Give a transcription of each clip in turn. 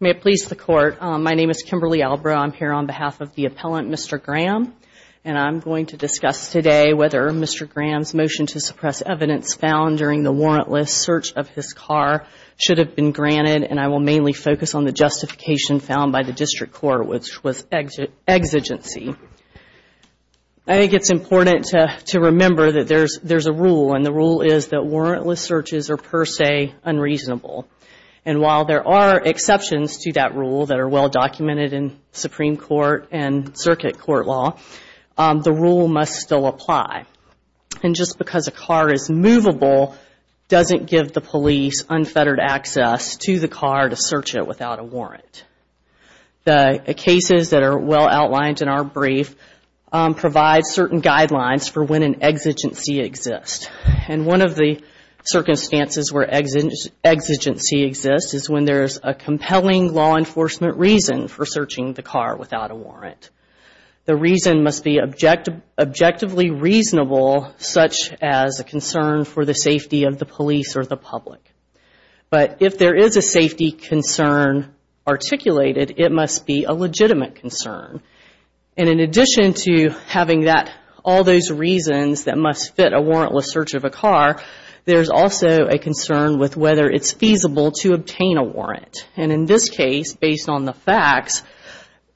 May it please the Court, my name is Kimberly Albraugh. I'm here on behalf of the appellant, Mr. Graham, and I'm going to discuss today whether Mr. Graham's motion to suppress evidence found during the warrantless search of his car should have been granted, and I will mainly focus on the justification found by the District Court, which was exigency. I think it's important to remember that there's a rule, and the rule is that warrantless searches are per se unreasonable. And while there are exceptions to that rule that are well documented in Supreme Court and circuit court law, the rule must still apply. And just because a car is movable doesn't give the police unfettered access to the car to search it without a warrant. The cases that are well outlined in our brief provide certain guidelines for when an exigency exists. And one of the circumstances where exigency exists is when there's a compelling law enforcement reason for searching the car without a warrant. The reason must be objectively reasonable such as a concern for the safety of the police or the public. But if there is a safety concern articulated, it must be a legitimate concern. And in addition to having all those reasons that must fit a warrantless search of a car, there's also a concern with whether it's feasible to obtain a warrant. And in this case, based on the facts,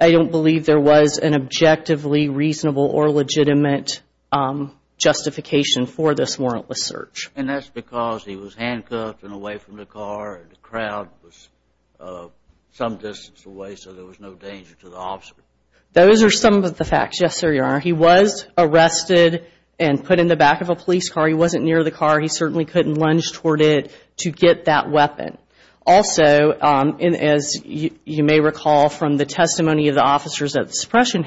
I don't believe there was an objectively reasonable or legitimate justification for this warrantless search. And that's because he was handcuffed and away from the car and the crowd was some distance away so there was no danger to the officer. Those are some of the facts, yes, sir, Your Honor. He was arrested and put in the back of a police car. He wasn't near the car. He certainly couldn't lunge toward it to get that weapon. Also, as you may recall from the testimony of the officers at the suppression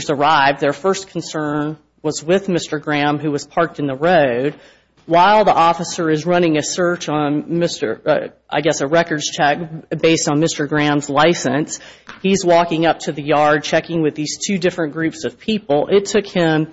drive, their first concern was with Mr. Graham who was parked in the road. While the officer is running a search on Mr., I guess a records check based on Mr. Graham's license, he's walking up to the yard checking with these two different groups of people. It took him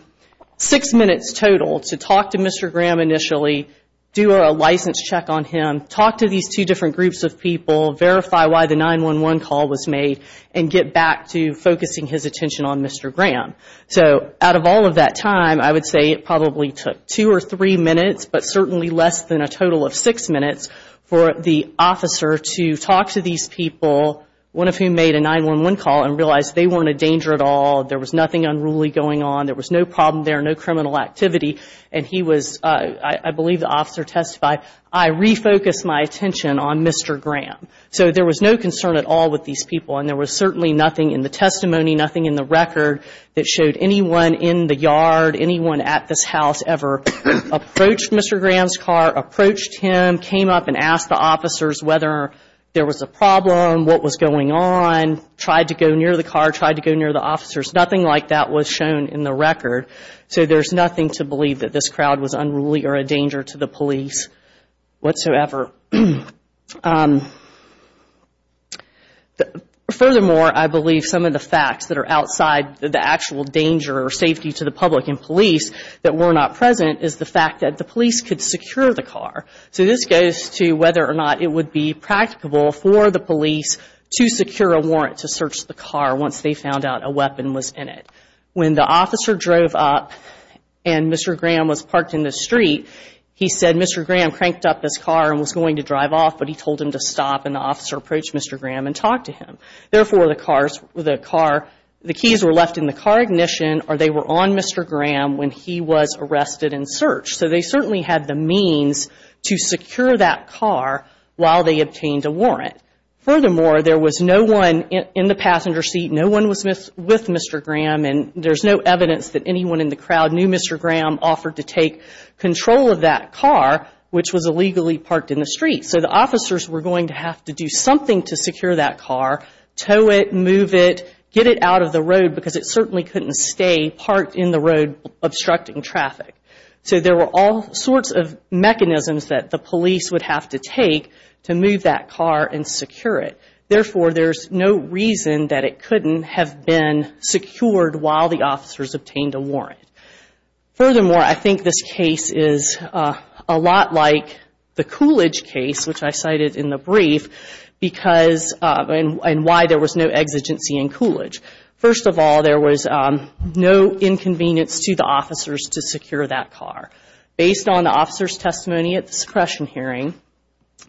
six minutes total to talk to Mr. Graham initially, do a license check on him, talk to these two different groups of people, verify why the 911 call was made, and get back to focusing his attention on Mr. Graham. So out of all of that time, I would say it probably took two or three minutes but certainly less than a total of six minutes for the officer to talk to these people, one of whom made a 911 call and realized they weren't a danger at all, there was nothing unruly going on, there was no problem there, no criminal activity, and he was, I believe the officer testified, I refocused my attention on Mr. Graham. So there was no concern at all with these people and there was certainly nothing in the testimony, nothing in the record that showed anyone in the yard, anyone at this house ever approached Mr. Graham's car, approached him, came up and asked the officers whether there was a problem, what was going on, tried to go near the car, tried to go near the officers, nothing like that was shown in the record. So there's nothing to believe that this crowd was unruly or a danger to the police whatsoever. And furthermore, I believe some of the facts that are outside the actual danger or safety to the public and police that were not present is the fact that the police could secure the car. So this goes to whether or not it would be practicable for the police to secure a warrant to search the car once they found out a weapon was in it. When the officer drove up and Mr. Graham was parked in the street, he said Mr. Graham cranked up his car and was going to drive off but he told him to stop and the officer approached Mr. Graham and talked to him. Therefore, the car, the keys were left in the car ignition or they were on Mr. Graham when he was arrested and searched. So they certainly had the means to secure that car while they obtained a warrant. Furthermore, there was no one in the passenger seat, no one was with Mr. Graham and there's no evidence that anyone in the crowd knew Mr. Graham offered to take control of that car which was illegally parked in the street. So the officers were going to have to do something to secure that car, tow it, move it, get it out of the road because it certainly couldn't stay parked in the road obstructing traffic. So there were all sorts of mechanisms that the police would have to take to move that car and secure it. Therefore, there's no reason that it couldn't have been secured while the officers obtained a warrant. Furthermore, I think this case is a lot like the Coolidge case which I cited in the brief because, and why there was no exigency in Coolidge. First of all, there was no inconvenience to the officers to secure that car. Based on the officer's testimony at the suppression hearing,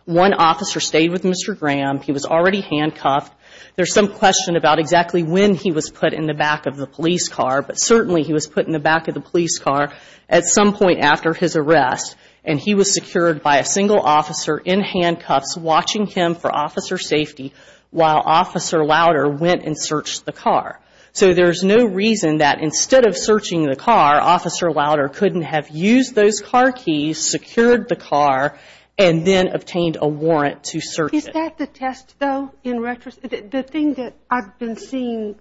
one officer stayed with Mr. Graham, he was already handcuffed. There's some question about exactly when he was put in the back of the police car but certainly he was put in the back of the police car at some point after his arrest and he was secured by a single officer in handcuffs watching him for officer safety while Officer Louder went and searched the car. So there's no reason that instead of searching the car, Officer Louder couldn't have used those car keys, secured the car and then obtained a warrant to search it. Is that the test though? The thing that I've been seeing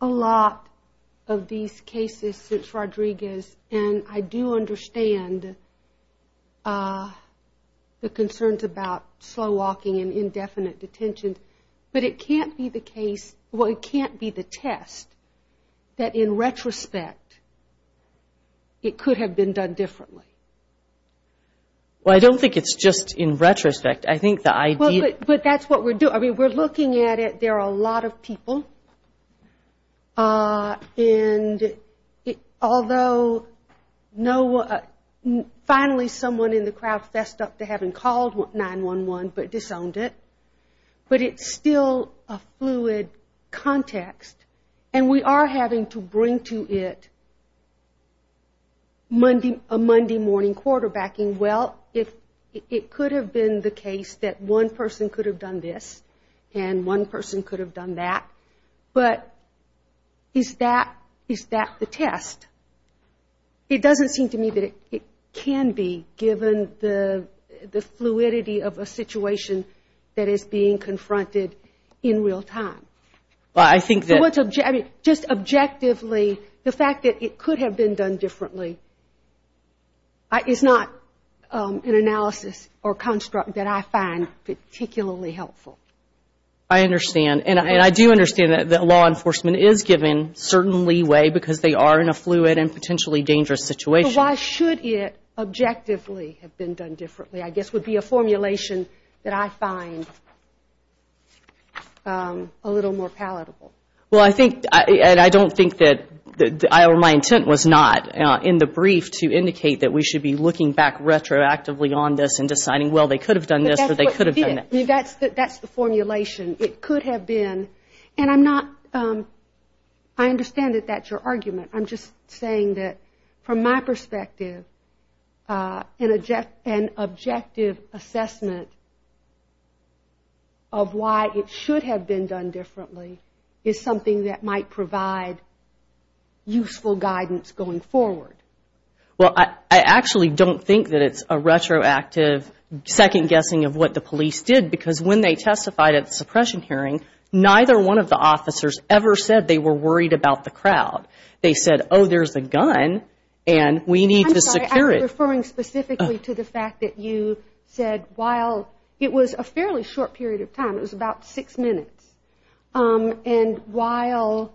a lot of these cases since Rodriguez and I do understand the concerns about slow walking and indefinite detention but it can't be the case, well it can't be the test that in retrospect it could have been done differently. Well, I don't think it's just in retrospect, I think the idea... But that's what we're doing, we're looking at it, there are a lot of people and although no one, finally someone in the crowd fessed up to having called 911 but disowned it, but it's still a fluid context and we are having to bring to it a Monday morning, a Monday morning quarterbacking. Well, it could have been the case that one person could have done this and one person could have done that, but is that the test? It doesn't seem to me that it can be given the fluidity of a situation that is being confronted in real time. Well, I think that... Just objectively, the fact that it could have been done differently is not an analysis or construct that I find particularly helpful. I understand and I do understand that law enforcement is given certain leeway because they are in a fluid and potentially dangerous situation. Why should it objectively have been done differently I guess would be a formulation that I find a little more palatable. Well, I think, and I don't think that, or my intent was not in the brief to indicate that we should be looking back retroactively on this and deciding, well, they could have done this or they could have done that. That's the formulation. It could have been, and I'm not, I understand that that's your argument. I'm just saying that from my perspective, an objective assessment of the situation of why it should have been done differently is something that might provide useful guidance going forward. Well, I actually don't think that it's a retroactive second guessing of what the police did because when they testified at the suppression hearing, neither one of the officers ever said they were worried about the crowd. They said, oh, there's a gun and we need to secure it. I'm sorry, I'm referring specifically to the fact that you said while it was a fairly short period of time, it was about six minutes, and while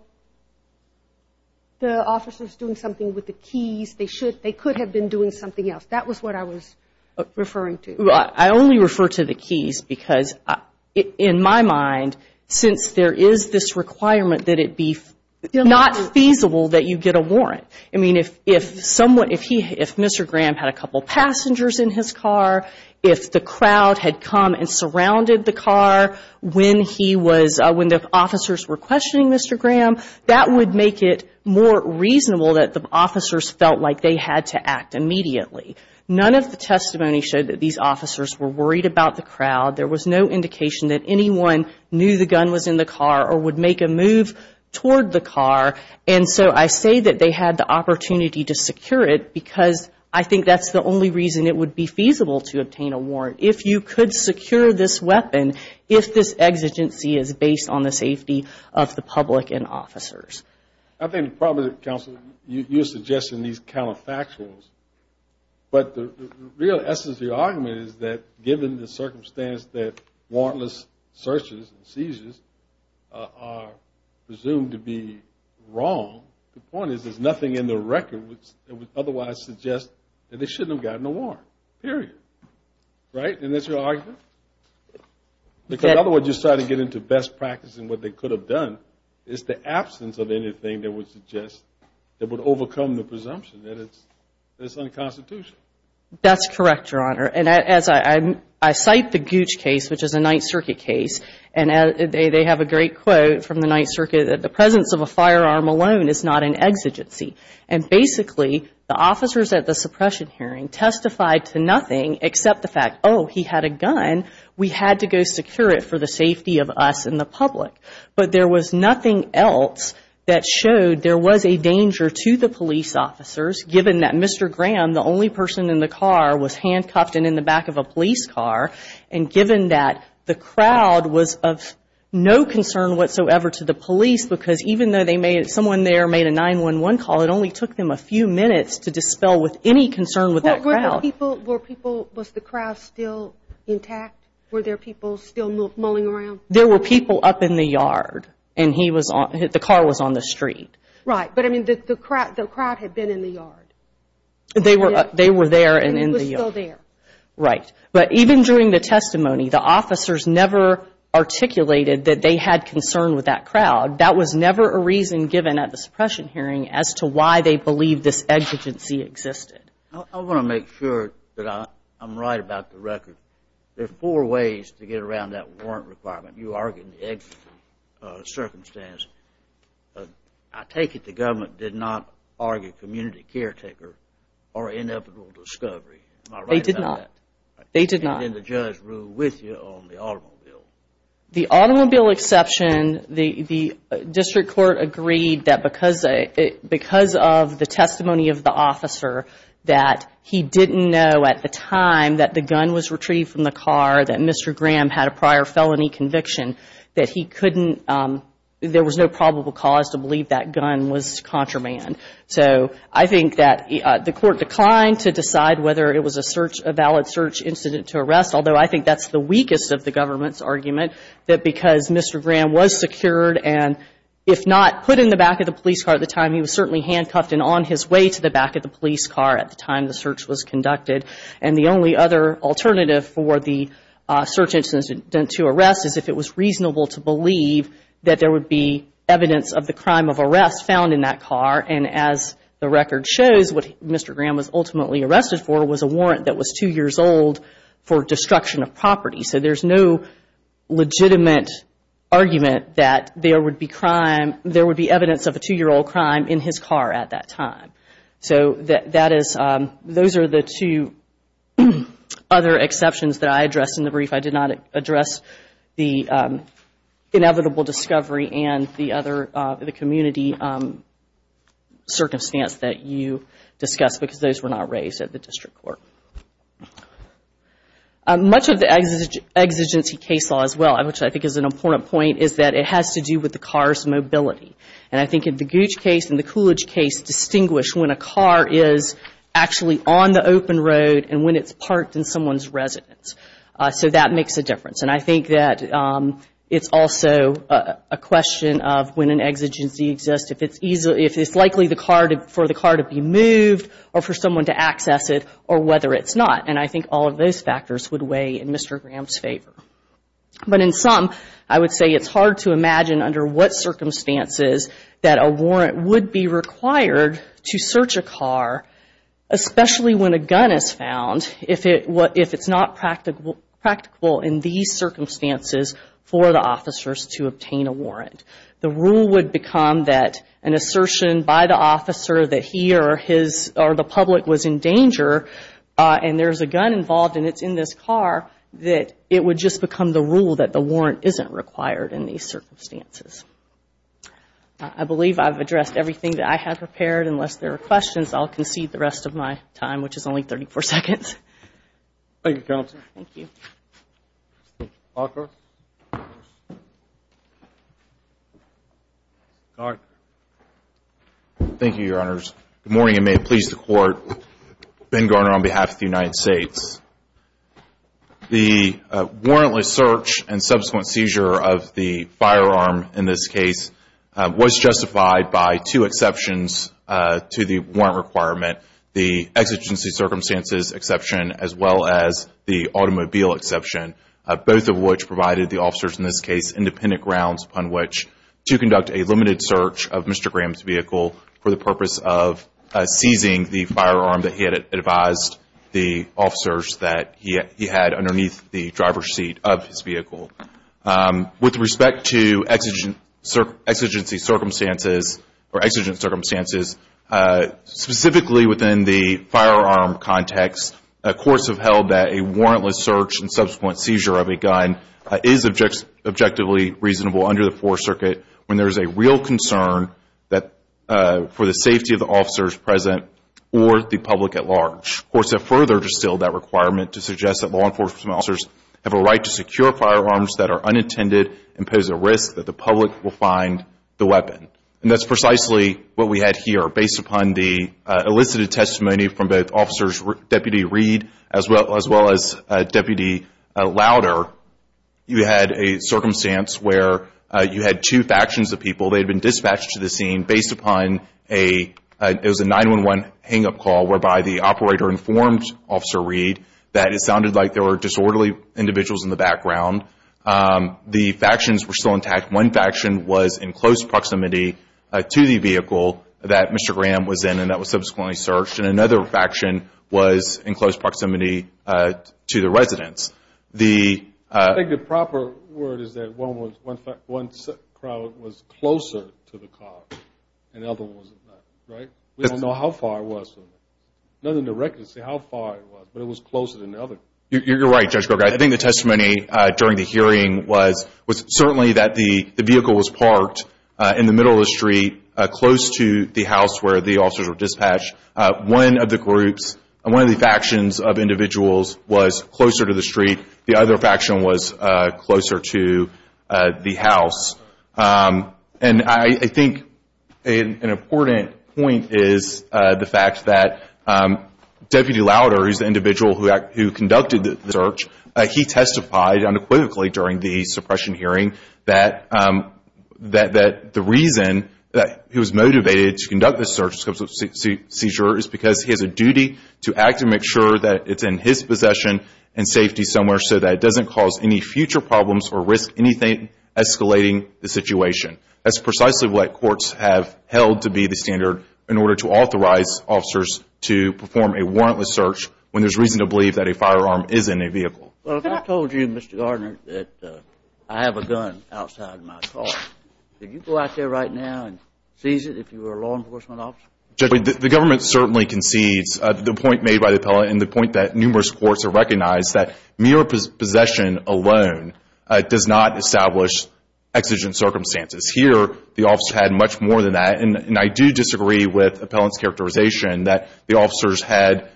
the officers were doing something with the keys, they could have been doing something else. That was what I was referring to. Well, I only refer to the keys because in my mind, since there is this requirement that it be not feasible that you get a warrant. I mean, if someone, if he, if Mr. Graham had a couple passengers in his car, if the crowd had come and surrounded the car when he was, when the officers were questioning Mr. Graham, that would make it more reasonable that the officers felt like they had to act immediately. None of the testimony showed that these officers were worried about the crowd. There was no indication that anyone knew the gun was in the car or would make a move toward the car. And so I say that they had the opportunity to secure it because I think that's the only reason it would be feasible to obtain a warrant. If you could secure this weapon, if this exigency is based on the safety of the public and officers. I think probably, Counsel, you're suggesting these counterfactuals, but the real essence of your argument is that given the circumstance that warrantless searches and seizures are presumed to be wrong, the point is there's nothing in the record that would otherwise suggest that they shouldn't have gotten a warrant. Period. Right? And that's your argument? Because in other words, you're starting to get into best practice in what they could have done is the absence of anything that would suggest, that would overcome the presumption that it's unconstitutional. That's correct, Your Honor. And as I cite the Gooch case, which is a Ninth Circuit case, and they have a great quote from the Ninth Circuit, that the presence of a firearm alone is not an exigency. And basically, the officers at the suppression hearing testified to nothing except the fact, oh, he had a gun, we had to go secure it for the safety of us and the public. But there was nothing else that showed there was a danger to the police officers given that Mr. Graham, the only person in the car, was handcuffed and in the back of a police car. And given that, the crowd was of no concern whatsoever to the police because even though they made, someone there made a 911 call, it only took them a few minutes to dispel with any concern with that crowd. Were people, was the crowd still intact? Were there people still mulling around? There were people up in the yard. And he was on, the car was on the street. Right. But I mean, the crowd had been in the yard. They were there and in the yard. And he was still there. Right. But even during the testimony, the officers never articulated that they had concern with that crowd. That was never a reason given at the suppression hearing as to why they believed this exigency existed. I want to make sure that I'm right about the record. There are four ways to get around that warrant requirement. You argued the exigency circumstance. I take it the government did not argue community caretaker or inevitable discovery. Am I right about that? They did not. And then the judge ruled with you on the automobile. The automobile exception, the district court agreed that because of the testimony of the officer that he didn't know at the time that the gun was retrieved from the car, that Mr. Graham had a prior felony conviction, that he couldn't, there was no probable cause to believe that gun was contraband. So I think that the court declined to decide whether it was a search, a valid search incident to arrest, although I think that's the weakest of the government's argument, that because Mr. Graham was secured and if not put in the back of the police car at the time, he was certainly handcuffed and on his way to the back of the police car at the time the search was conducted. And the only other alternative for the search incident to arrest is if it was reasonable to believe that there would be evidence of the crime of arrest found in that car and as the record shows, what Mr. Graham was ultimately arrested for was a warrant that was two years old for destruction of property. So there's no legitimate argument that there would be crime, there would be evidence of a two-year-old crime in his car at that time. So that is, those are the two other exceptions that I addressed in the brief. I did not address the inevitable discovery and the other, the community circumstance that you discussed because those were not raised at the district court. Much of the exigency case law as well, which I think is an important point, is that it has to do with the car's mobility. And I think in the Gooch case and the Coolidge case distinguish when a car is actually on the open road and when it's parked in someone's residence. So that makes a difference. And I think that it's also a question of when an exigency exists, if it's likely for the car to be moved or for someone to access it or whether it's not. And I think all of those factors would weigh in Mr. Graham's favor. But in sum, I would say it's hard to imagine under what circumstances that a warrant would be required to search a car, especially when a gun is found, if it's not practical in these circumstances for the officers to obtain a warrant. The rule would become that an assertion by the officer that he or his or the public was in danger and there's a gun involved and it's in this car, that it would just become the rule that the warrant isn't required in these circumstances. I believe I've addressed everything that I have prepared. Unless there are questions, I'll concede the rest of my time, which is only 34 seconds. Thank you, Counsel. Thank you. Mr. Walker. Garner. Thank you, Your Honors. Good morning and may it please the Court, Ben Garner on behalf of the United States. The warrantless search and subsequent seizure of the firearm in this case was justified by two exceptions to the warrant requirement, the exigency circumstances exception as well as the automobile exception, both of which provided the officers in this case independent grounds upon which to conduct a limited search of Mr. Graham's vehicle for the purpose of he had underneath the driver's seat of his vehicle. With respect to exigency circumstances or exigent circumstances, specifically within the firearm context, courts have held that a warrantless search and subsequent seizure of a gun is objectively reasonable under the Fourth Circuit when there is a real concern for the safety of the officers present or the public at large. Courts have further distilled that requirement to suggest that law enforcement officers have a right to secure firearms that are unintended and pose a risk that the public will find the weapon. And that's precisely what we had here. Based upon the elicited testimony from both Officers Deputy Reed as well as Deputy Louder, you had a circumstance where you had two factions of people, they'd been dispatched to the scene and based upon a 9-1-1 hang-up call whereby the operator informed Officer Reed that it sounded like there were disorderly individuals in the background. The factions were still intact. One faction was in close proximity to the vehicle that Mr. Graham was in and that was subsequently searched. And another faction was in close proximity to the residence. I think the proper word is that one crowd was closer to the car and the other wasn't, right? We don't know how far it was from there. None of the records say how far it was, but it was closer than the other. You're right, Judge Kroger. I think the testimony during the hearing was certainly that the vehicle was parked in the middle of the street close to the house where the officers were dispatched. One of the groups, one of the factions of individuals was closer to the street. The other faction was closer to the house. And I think an important point is the fact that Deputy Louder, who's the individual who conducted the search, he testified unequivocally during the suppression hearing that the reason that he was motivated to conduct this search is because he has a duty to act and make sure that it's in his possession and safety somewhere so that it doesn't cause any future problems or risk anything escalating the situation. That's precisely what courts have held to be the standard in order to authorize officers to perform a warrantless search when there's reason to believe that a firearm is in a vehicle. Well, if I told you, Mr. Gardner, that I have a gun outside my car, could you go out there right now and seize it if you were a law enforcement officer? Judge, the government certainly concedes the point made by the appellant and the point that numerous courts have recognized that mere possession alone does not establish exigent circumstances. Here, the officer had much more than that. And I do disagree with the appellant's characterization that the officers had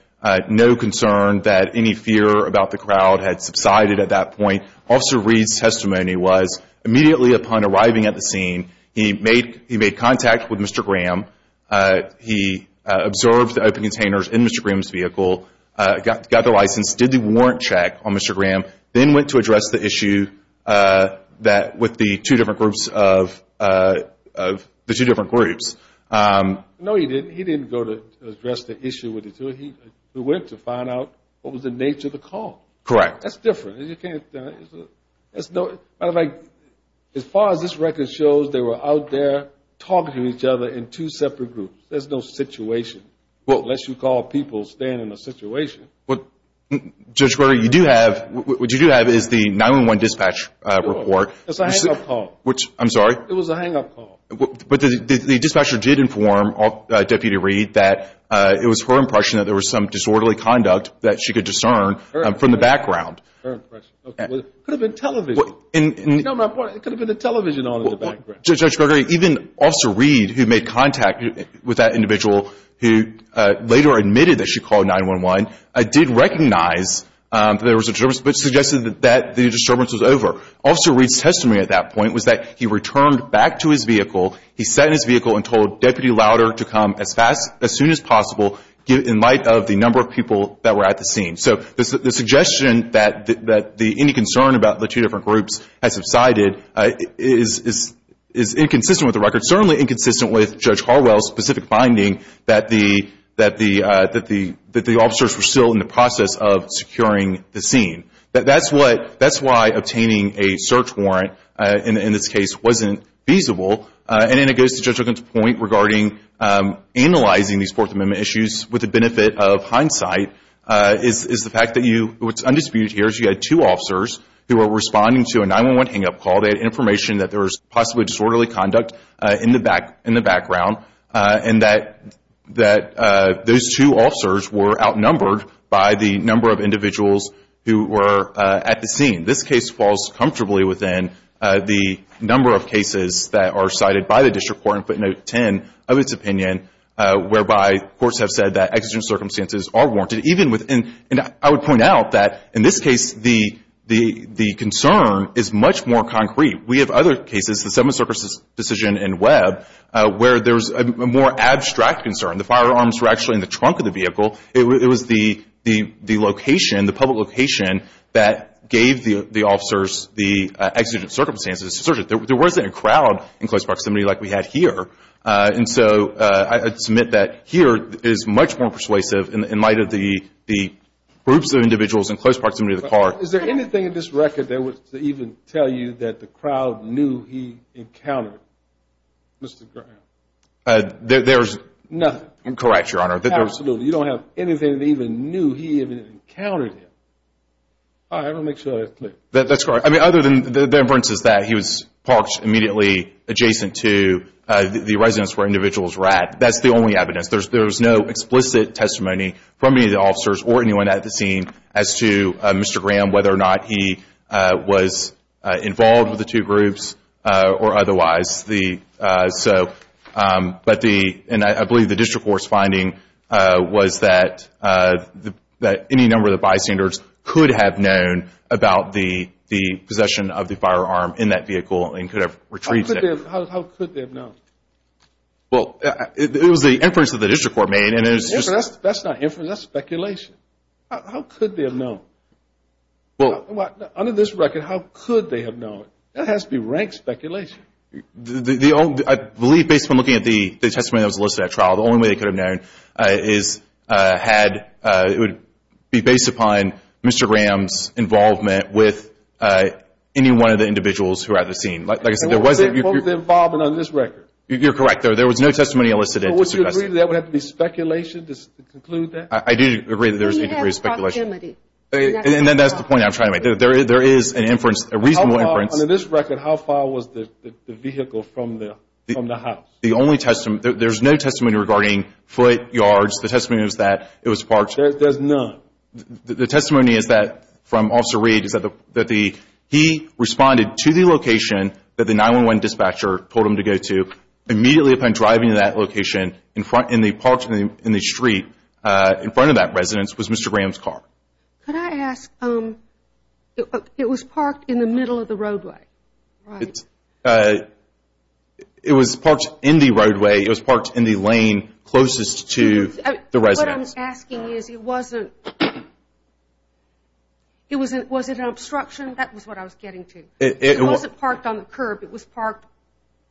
no concern that any fear about the crowd had subsided at that point. Officer Reed's testimony was immediately upon arriving at the scene, he made contact with Mr. Graham. He observed the open containers in Mr. Graham's vehicle, got the license, did the warrant check on Mr. Graham, then went to address the issue with the two different groups. No, he didn't. He didn't go to address the issue with the two. He went to find out what was the nature of the call. Correct. That's different. As far as this record shows, they were out there talking to each other in two separate groups. There's no situation unless you call people staying in a situation. Judge Brewer, what you do have is the 911 dispatch report. It's a hang-up call. I'm sorry? It was a hang-up call. But the dispatcher did inform Deputy Reed that it was her impression that there was some disorderly conduct that she could discern from the background. It could have been television. You know my point? It could have been the television on in the background. Judge Brewer, even Officer Reed, who made contact with that individual who later admitted that she called 911, did recognize that there was a disturbance, but suggested that the disturbance was over. Officer Reed's testimony at that point was that he returned back to his vehicle, he sat in his vehicle and told Deputy Lauder to come as fast as soon as possible in light of the number of people that were at the scene. So the suggestion that any concern about the two different groups had subsided is inconsistent with the record, certainly inconsistent with Judge Harwell's specific finding that the officers were still in the process of securing the scene. That's why obtaining a search warrant in this case wasn't feasible. And then it goes to Judge Ogun's point regarding analyzing these Fourth Amendment issues with the benefit of hindsight, is the fact that what's undisputed here is you had two officers who were responding to a 911 hang-up call. They had information that there was possibly disorderly conduct in the background, and that those two officers were outnumbered by the number of individuals who were at the scene. This case falls comfortably within the number of cases that are cited by the district court in footnote 10 of its opinion, whereby courts have said that exigent circumstances are warranted. And I would point out that in this case the concern is much more concrete. We have other cases, the Seventh Circus decision in Webb, where there's a more abstract concern. The firearms were actually in the trunk of the vehicle. It was the location, the public location, that gave the officers the exigent circumstances. There wasn't a crowd in close proximity like we had here. And so I submit that here is much more persuasive in light of the groups of individuals in close proximity to the car. Is there anything in this record that would even tell you that the crowd knew he encountered Mr. Graham? There's nothing. Correct, Your Honor. Absolutely. You don't have anything that even knew he even encountered him. All right. I'm going to make sure that's clear. That's correct. I mean, other than the inferences that he was parked immediately adjacent to the residence where individuals were at, that's the only evidence. There's no explicit testimony from any of the officers or anyone at the scene as to Mr. Graham, whether or not he was involved with the two groups or otherwise. But the, and I believe the district court's finding was that any number of the bystanders could have known about the possession of the firearm in that vehicle and could have retrieved it. How could they have known? Well, it was the inference that the district court made. That's not inference. That's speculation. How could they have known? Under this record, how could they have known? That has to be rank speculation. The only, I believe based upon looking at the testimony that was listed at trial, the only way they could have known is had, it would be based upon Mr. Graham's involvement with any one of the individuals who were at the scene. Like I said, there wasn't. Both involvement on this record. You're correct. There was no testimony elicited. Would you agree that would have to be speculation to conclude that? I do agree that there's a degree of speculation. Then you have proximity. And then that's the point I'm trying to make. There is an inference, a reasonable inference. Under this record, how far was the vehicle from the house? There's no testimony regarding foot, yards. The testimony is that it was parked. There's none. The testimony is that, from Officer Reed, is that he responded to the location that the 911 dispatcher told him to go to. Immediately upon driving to that location in the street in front of that residence was Mr. Graham's car. Could I ask, it was parked in the middle of the roadway, right? It was parked in the roadway. It was parked in the lane closest to the residence. What I'm asking is, it wasn't an obstruction? That was what I was getting to. It wasn't parked on the curb. It was parked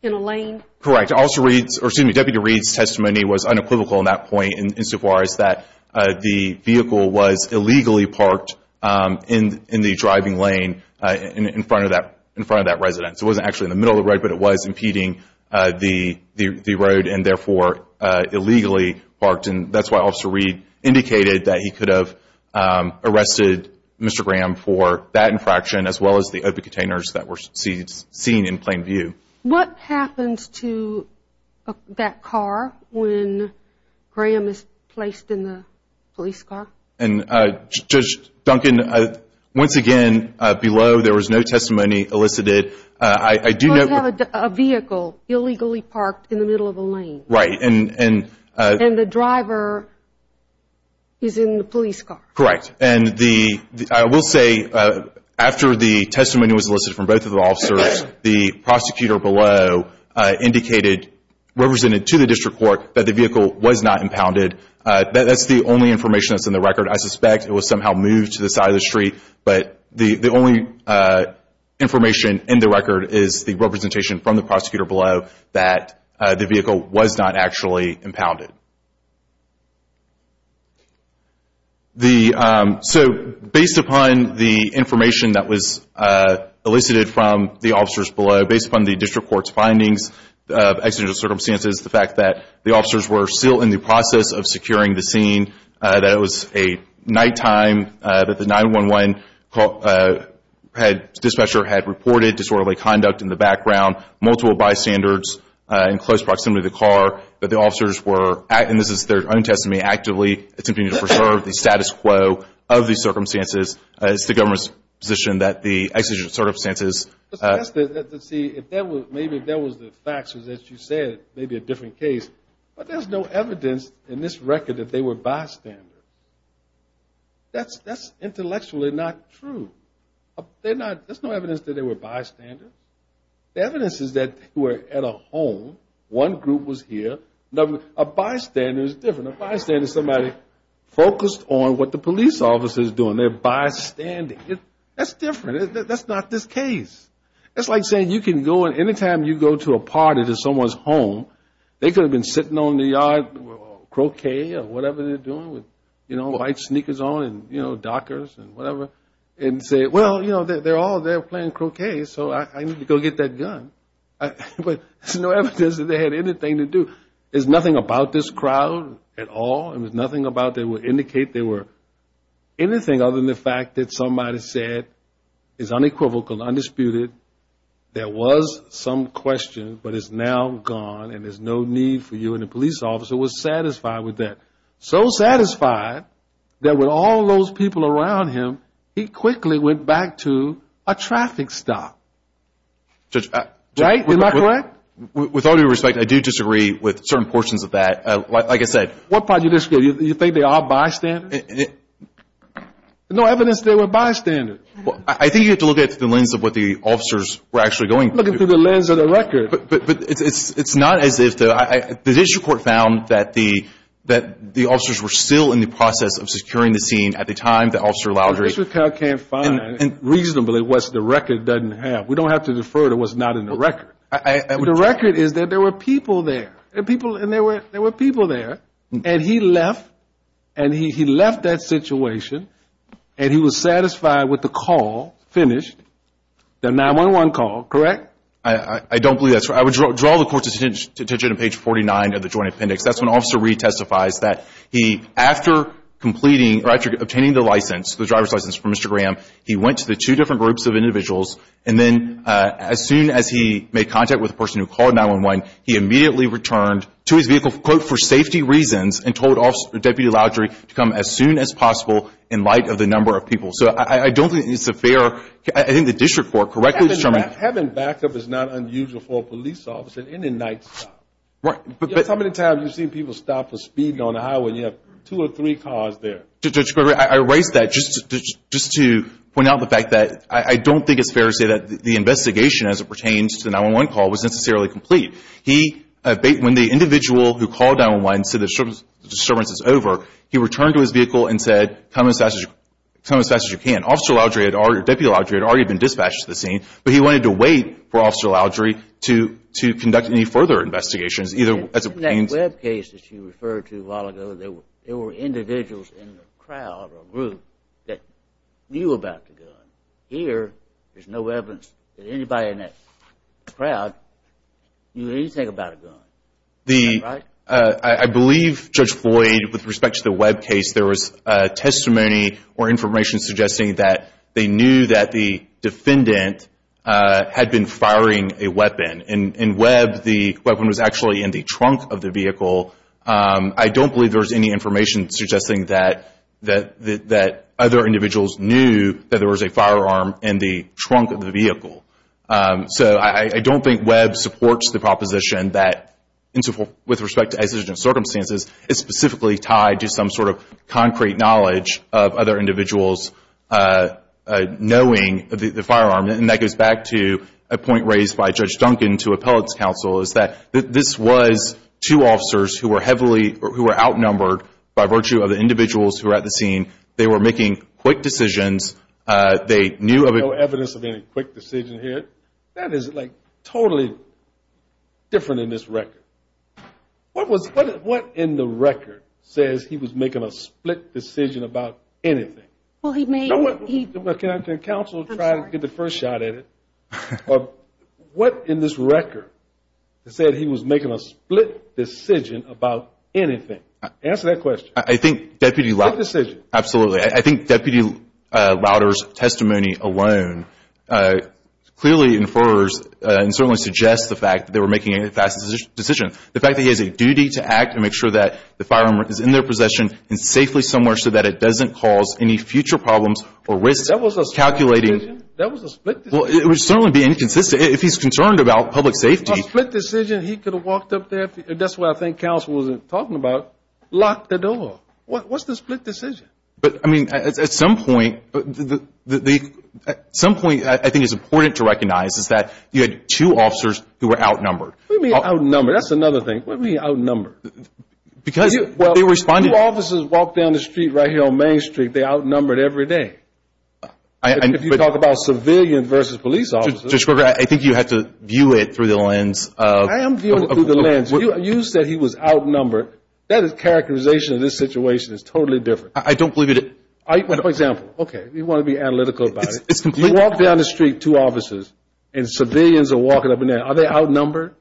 in a lane? Correct. Deputy Reed's testimony was unequivocal in that point. Insofar as that the vehicle was illegally parked in the driving lane in front of that residence. It wasn't actually in the middle of the road, but it was impeding the road and, therefore, illegally parked. That's why Officer Reed indicated that he could have arrested Mr. Graham for that infraction, as well as the open containers that were seen in plain view. What happens to that car when Graham is placed in the police car? Judge Duncan, once again, below there was no testimony elicited. You have a vehicle illegally parked in the middle of a lane. Right. And the driver is in the police car. Correct. I will say, after the testimony was elicited from both of the officers, the prosecutor below indicated, represented to the district court, that the vehicle was not impounded. That's the only information that's in the record. I suspect it was somehow moved to the side of the street, but the only information in the record is the representation from the prosecutor below that the vehicle was not actually impounded. So, based upon the information that was elicited from the officers below, based upon the district court's findings of accidental circumstances, the fact that the officers were still in the process of securing the scene, that it was a nighttime, that the 911 dispatcher had reported disorderly conduct in the background, multiple bystanders in close proximity to the car, that the officers were, and this is their own testimony, actively attempting to preserve the status quo of the circumstances, it's the government's position that the executive circumstances. See, maybe if that was the facts, as you said, it may be a different case. But there's no evidence in this record that they were bystanders. That's intellectually not true. There's no evidence that they were bystanders. The evidence is that they were at a home. One group was here. A bystander is different. A bystander is somebody focused on what the police officer is doing. They're bystanding. That's different. That's not this case. It's like saying you can go and any time you go to a party to someone's home, they could have been sitting on the yard croquet or whatever they're doing with, you know, white sneakers on and, you know, Dockers and whatever, and say, well, you know, they're all there playing croquet, so I need to go get that gun. But there's no evidence that they had anything to do. There's nothing about this crowd at all, and there's nothing about that would indicate they were anything other than the fact that somebody said it's unequivocal, undisputed, there was some question, but it's now gone and there's no need for you. And the police officer was satisfied with that. So satisfied that with all those people around him, he quickly went back to a traffic stop. Right? Am I correct? With all due respect, I do disagree with certain portions of that. Like I said. What part do you disagree? Do you think they are bystanders? There's no evidence they were bystanders. I think you have to look at the lens of what the officers were actually going through. Looking through the lens of the record. But it's not as if the judicial court found that the officers were still in the process of securing the scene at the time the officer allowed. The judicial court can't find reasonably what the record doesn't have. We don't have to defer to what's not in the record. The record is that there were people there. And there were people there. And he left. And he left that situation. And he was satisfied with the call finished, the 9-1-1 call. Correct? I don't believe that's right. I would draw the court's attention to page 49 of the joint appendix. That's when Officer Reed testifies that after obtaining the license, the driver's license from Mr. Graham, he went to the two different groups of individuals. And then as soon as he made contact with the person who called 9-1-1, he immediately returned to his vehicle, quote, for safety reasons and told Deputy Laudry to come as soon as possible in light of the number of people. So I don't think it's a fair, I think the district court correctly determined. Having backup is not unusual for a police officer in a night stop. Right. How many times have you seen people stop for speeding on a highway and you have two or three cars there? District Court, I raise that just to point out the fact that I don't think it's fair to say that the investigation as it pertains to the 9-1-1 call was necessarily complete. When the individual who called 9-1-1 said the disturbance is over, he returned to his vehicle and said, come as fast as you can. Deputy Laudry had already been dispatched to the scene, but he wanted to wait for Officer Laudry to conduct any further investigations. In that web case that you referred to a while ago, there were individuals in the crowd or group that knew about the gun. Here, there's no evidence that anybody in that crowd knew anything about a gun. I believe, Judge Floyd, with respect to the web case, there was testimony or information suggesting that they knew that the defendant had been firing a weapon. In web, the weapon was actually in the trunk of the vehicle. I don't believe there was any information suggesting that other individuals knew that there was a firearm in the trunk of the vehicle. So I don't think web supports the proposition that, with respect to exigent circumstances, it's specifically tied to some sort of concrete knowledge of other individuals knowing the firearm. And that goes back to a point raised by Judge Duncan to appellate's counsel, is that this was two officers who were outnumbered by virtue of the individuals who were at the scene. They were making quick decisions. There's no evidence of any quick decision here. That is, like, totally different in this record. What in the record says he was making a split decision about anything? Can counsel try to get the first shot at it? What in this record said he was making a split decision about anything? Answer that question. I think Deputy Lauder's testimony alone clearly infers and certainly suggests the fact that they were making a fast decision. The fact that he has a duty to act and make sure that the firearm is in their possession and safely somewhere so that it doesn't cause any future problems or risk calculating. That was a split decision? That was a split decision. Well, it would certainly be inconsistent. If he's concerned about public safety. A split decision, he could have walked up there. That's what I think counsel was talking about, locked the door. What's the split decision? But, I mean, at some point I think it's important to recognize is that you had two officers who were outnumbered. What do you mean outnumbered? That's another thing. What do you mean outnumbered? Because they responded. Well, two officers walked down the street right here on Main Street. They outnumbered every day. If you talk about civilian versus police officers. Judge Kruger, I think you have to view it through the lens of. I am viewing it through the lens. You said he was outnumbered. That is characterization of this situation is totally different. I don't believe it. For example, okay, you want to be analytical about it. You walk down the street, two officers, and civilians are walking up and down. Are they outnumbered?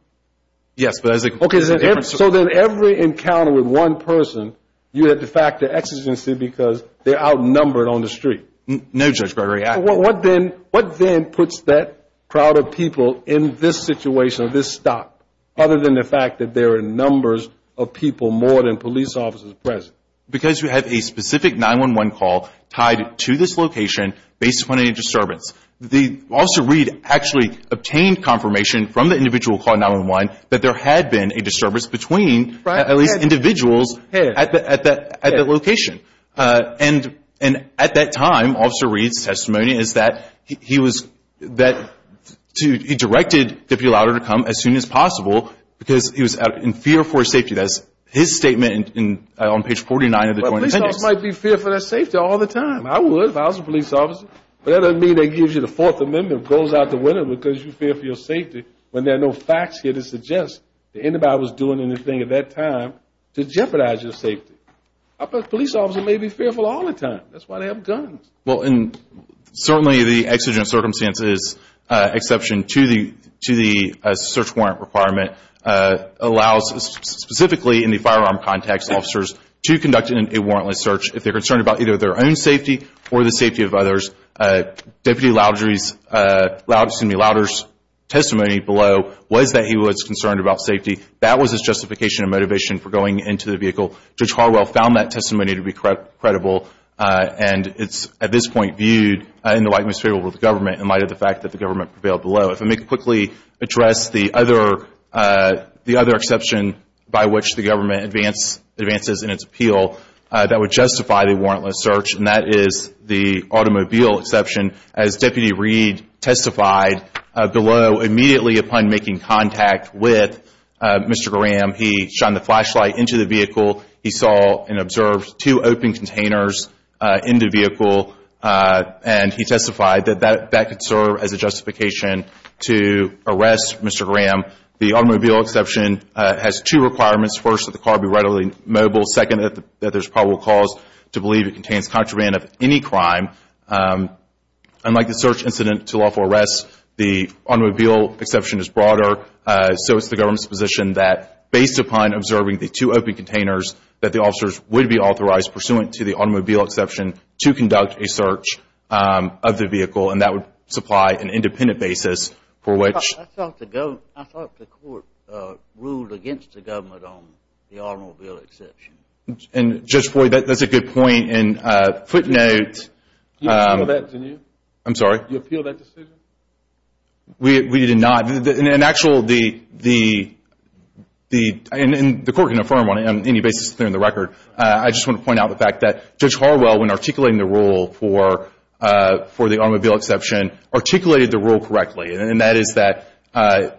Yes. So then every encounter with one person, you had de facto exigency because they're outnumbered on the street. No, Judge Kruger. What then puts that crowd of people in this situation, this stop, other than the fact that there are numbers of people more than police officers present? Because you have a specific 911 call tied to this location based upon any disturbance. Officer Reed actually obtained confirmation from the individual calling 911 that there had been a disturbance between at least individuals at that location. And at that time, Officer Reed's testimony is that he directed to be allowed to come as soon as possible because he was in fear for his safety. That's his statement on page 49 of the Joint Appendix. Well, police officers might be fearful of safety all the time. I would if I was a police officer. But that doesn't mean that gives you the Fourth Amendment, goes out the window because you fear for your safety when there are no facts here to suggest that anybody was doing anything at that time to jeopardize your safety. A police officer may be fearful all the time. That's why they have guns. Well, and certainly the exigent circumstances exception to the search warrant requirement allows specifically in the firearm context officers to conduct a warrantless search if they're concerned about either their own safety or the safety of others. Deputy Louder's testimony below was that he was concerned about safety. That was his justification and motivation for going into the vehicle. Judge Harwell found that testimony to be credible. And it's, at this point, viewed in the light of the government in light of the fact that the government prevailed below. If I may quickly address the other exception by which the government advances in its appeal that would justify the warrantless search, and that is the automobile exception. As Deputy Reed testified below, immediately upon making contact with Mr. Graham, he shone the flashlight into the vehicle. He saw and observed two open containers in the vehicle, and he testified that that could serve as a justification to arrest Mr. Graham. The automobile exception has two requirements. First, that the car be readily mobile. Second, that there's probable cause to believe it contains contraband of any crime. Unlike the search incident to lawful arrest, the automobile exception is broader, so it's the government's position that based upon observing the two open containers, that the officers would be authorized, pursuant to the automobile exception, to conduct a search of the vehicle, and that would supply an independent basis for which I thought the court ruled against the government on the automobile exception. And, Judge Boyd, that's a good point, and footnote. You appealed that, didn't you? I'm sorry? You appealed that decision? We did not. In actual, the court can affirm on any basis that they're in the record. I just want to point out the fact that Judge Harwell, when articulating the rule for the automobile exception, articulated the rule correctly, and that is that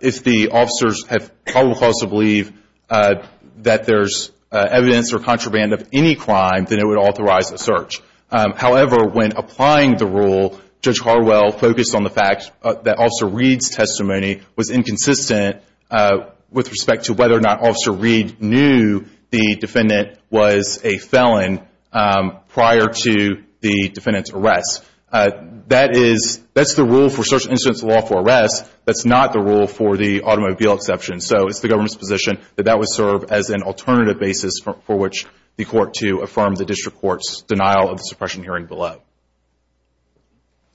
if the officers have probable cause to believe that there's evidence or contraband of any crime, then it would authorize a search. However, when applying the rule, Judge Harwell focused on the fact that Officer Reed's testimony was inconsistent with respect to whether or not Officer Reed knew the defendant was a felon prior to the defendant's arrest. That's the rule for search and instance law for arrest. That's not the rule for the automobile exception. So, it's the government's position that that would serve as an alternative basis for which the court to affirm the district court's denial of the suppression hearing below.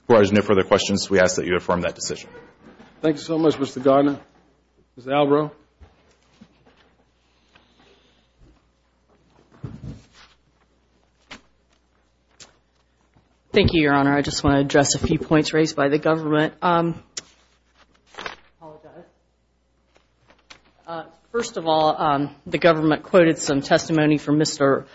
If there are no further questions, we ask that you affirm that decision. Thank you so much, Mr. Gardner. Ms. Albro. Thank you, Your Honor. I just want to address a few points raised by the government. First of all, the government quoted some testimony from Mr.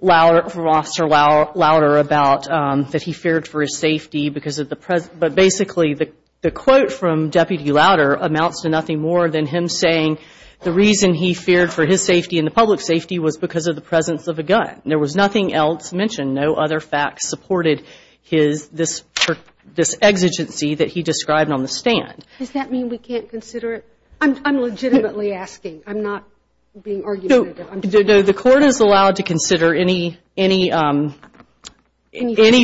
Louder, from Officer Louder, about that he feared for his safety because of the present. But basically, the quote from Deputy Louder amounts to nothing more than him saying the reason he feared for his safety and the public's safety was because of the presence of a gun. There was nothing else mentioned. No other facts supported this exigency that he described on the stand. Does that mean we can't consider it? I'm legitimately asking. I'm not being argumentative. The court is allowed to consider any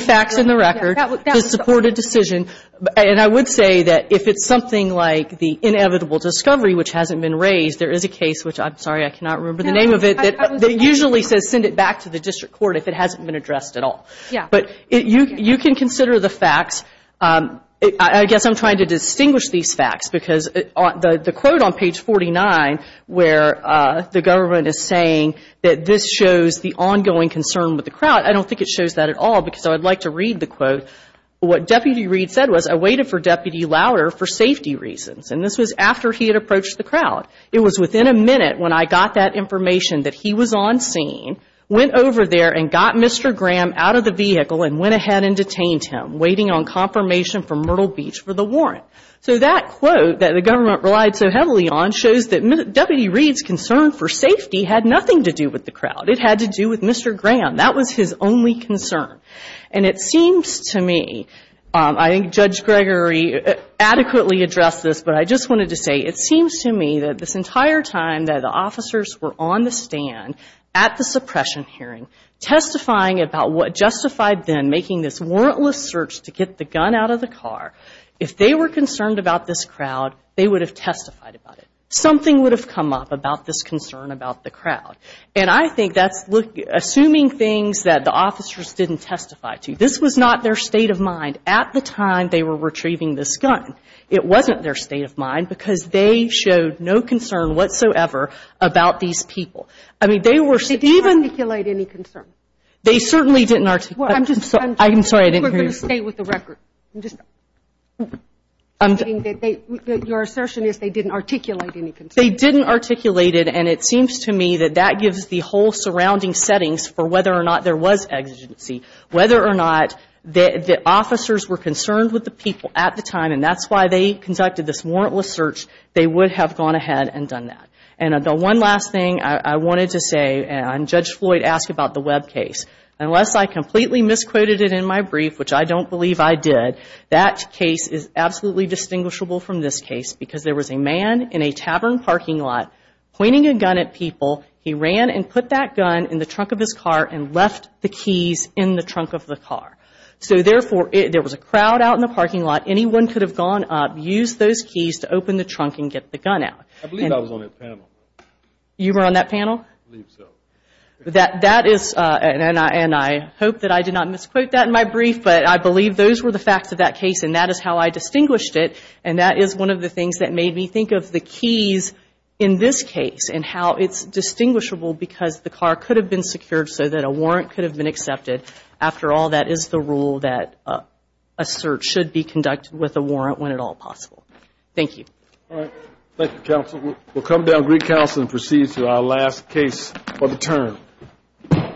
facts in the record to support a decision. And I would say that if it's something like the inevitable discovery, which hasn't been raised, there is a case, which I'm sorry I cannot remember the name of it, that usually says send it back to the district court if it hasn't been addressed at all. But you can consider the facts. I guess I'm trying to distinguish these facts because the quote on page 49, where the government is saying that this shows the ongoing concern with the crowd, I don't think it shows that at all because I would like to read the quote. What Deputy Reed said was, I waited for Deputy Louder for safety reasons. And this was after he had approached the crowd. It was within a minute when I got that information that he was on scene, went over there and got Mr. Graham out of the vehicle and went ahead and detained him, waiting on confirmation from Myrtle Beach for the warrant. So that quote that the government relied so heavily on shows that Deputy Reed's concern for safety had nothing to do with the crowd. It had to do with Mr. Graham. That was his only concern. And it seems to me, I think Judge Gregory adequately addressed this, but I just wanted to say, it seems to me that this entire time that the officers were on the stand at the suppression hearing, testifying about what justified them making this warrantless search to get the gun out of the car, if they were concerned about this crowd, they would have testified about it. Something would have come up about this concern about the crowd. And I think that's assuming things that the officers didn't testify to. This was not their state of mind at the time they were retrieving this gun. It wasn't their state of mind because they showed no concern whatsoever about these people. I mean, they were even ---- They certainly didn't articulate. I'm sorry, I didn't hear you. We're going to stay with the record. Your assertion is they didn't articulate any concern. They didn't articulate it, and it seems to me that that gives the whole surrounding settings for whether or not there was exigency. Whether or not the officers were concerned with the people at the time, and that's why they conducted this warrantless search, they would have gone ahead and done that. And the one last thing I wanted to say, and Judge Floyd asked about the Webb case, unless I completely misquoted it in my brief, which I don't believe I did, that case is absolutely distinguishable from this case because there was a man in a tavern parking lot pointing a gun at people. He ran and put that gun in the trunk of his car and left the keys in the trunk of the car. So, therefore, there was a crowd out in the parking lot. Anyone could have gone up, used those keys to open the trunk and get the gun out. I believe I was on that panel. You were on that panel? I believe so. That is, and I hope that I did not misquote that in my brief, but I believe those were the facts of that case, and that is how I distinguished it, and that is one of the things that made me think of the keys in this case and how it's distinguishable because the car could have been secured so that a warrant could have been accepted. After all, that is the rule that a search should be conducted with a warrant when at all possible. Thank you. All right. Thank you, counsel. We'll come down, greet counsel, and proceed to our last case of the term.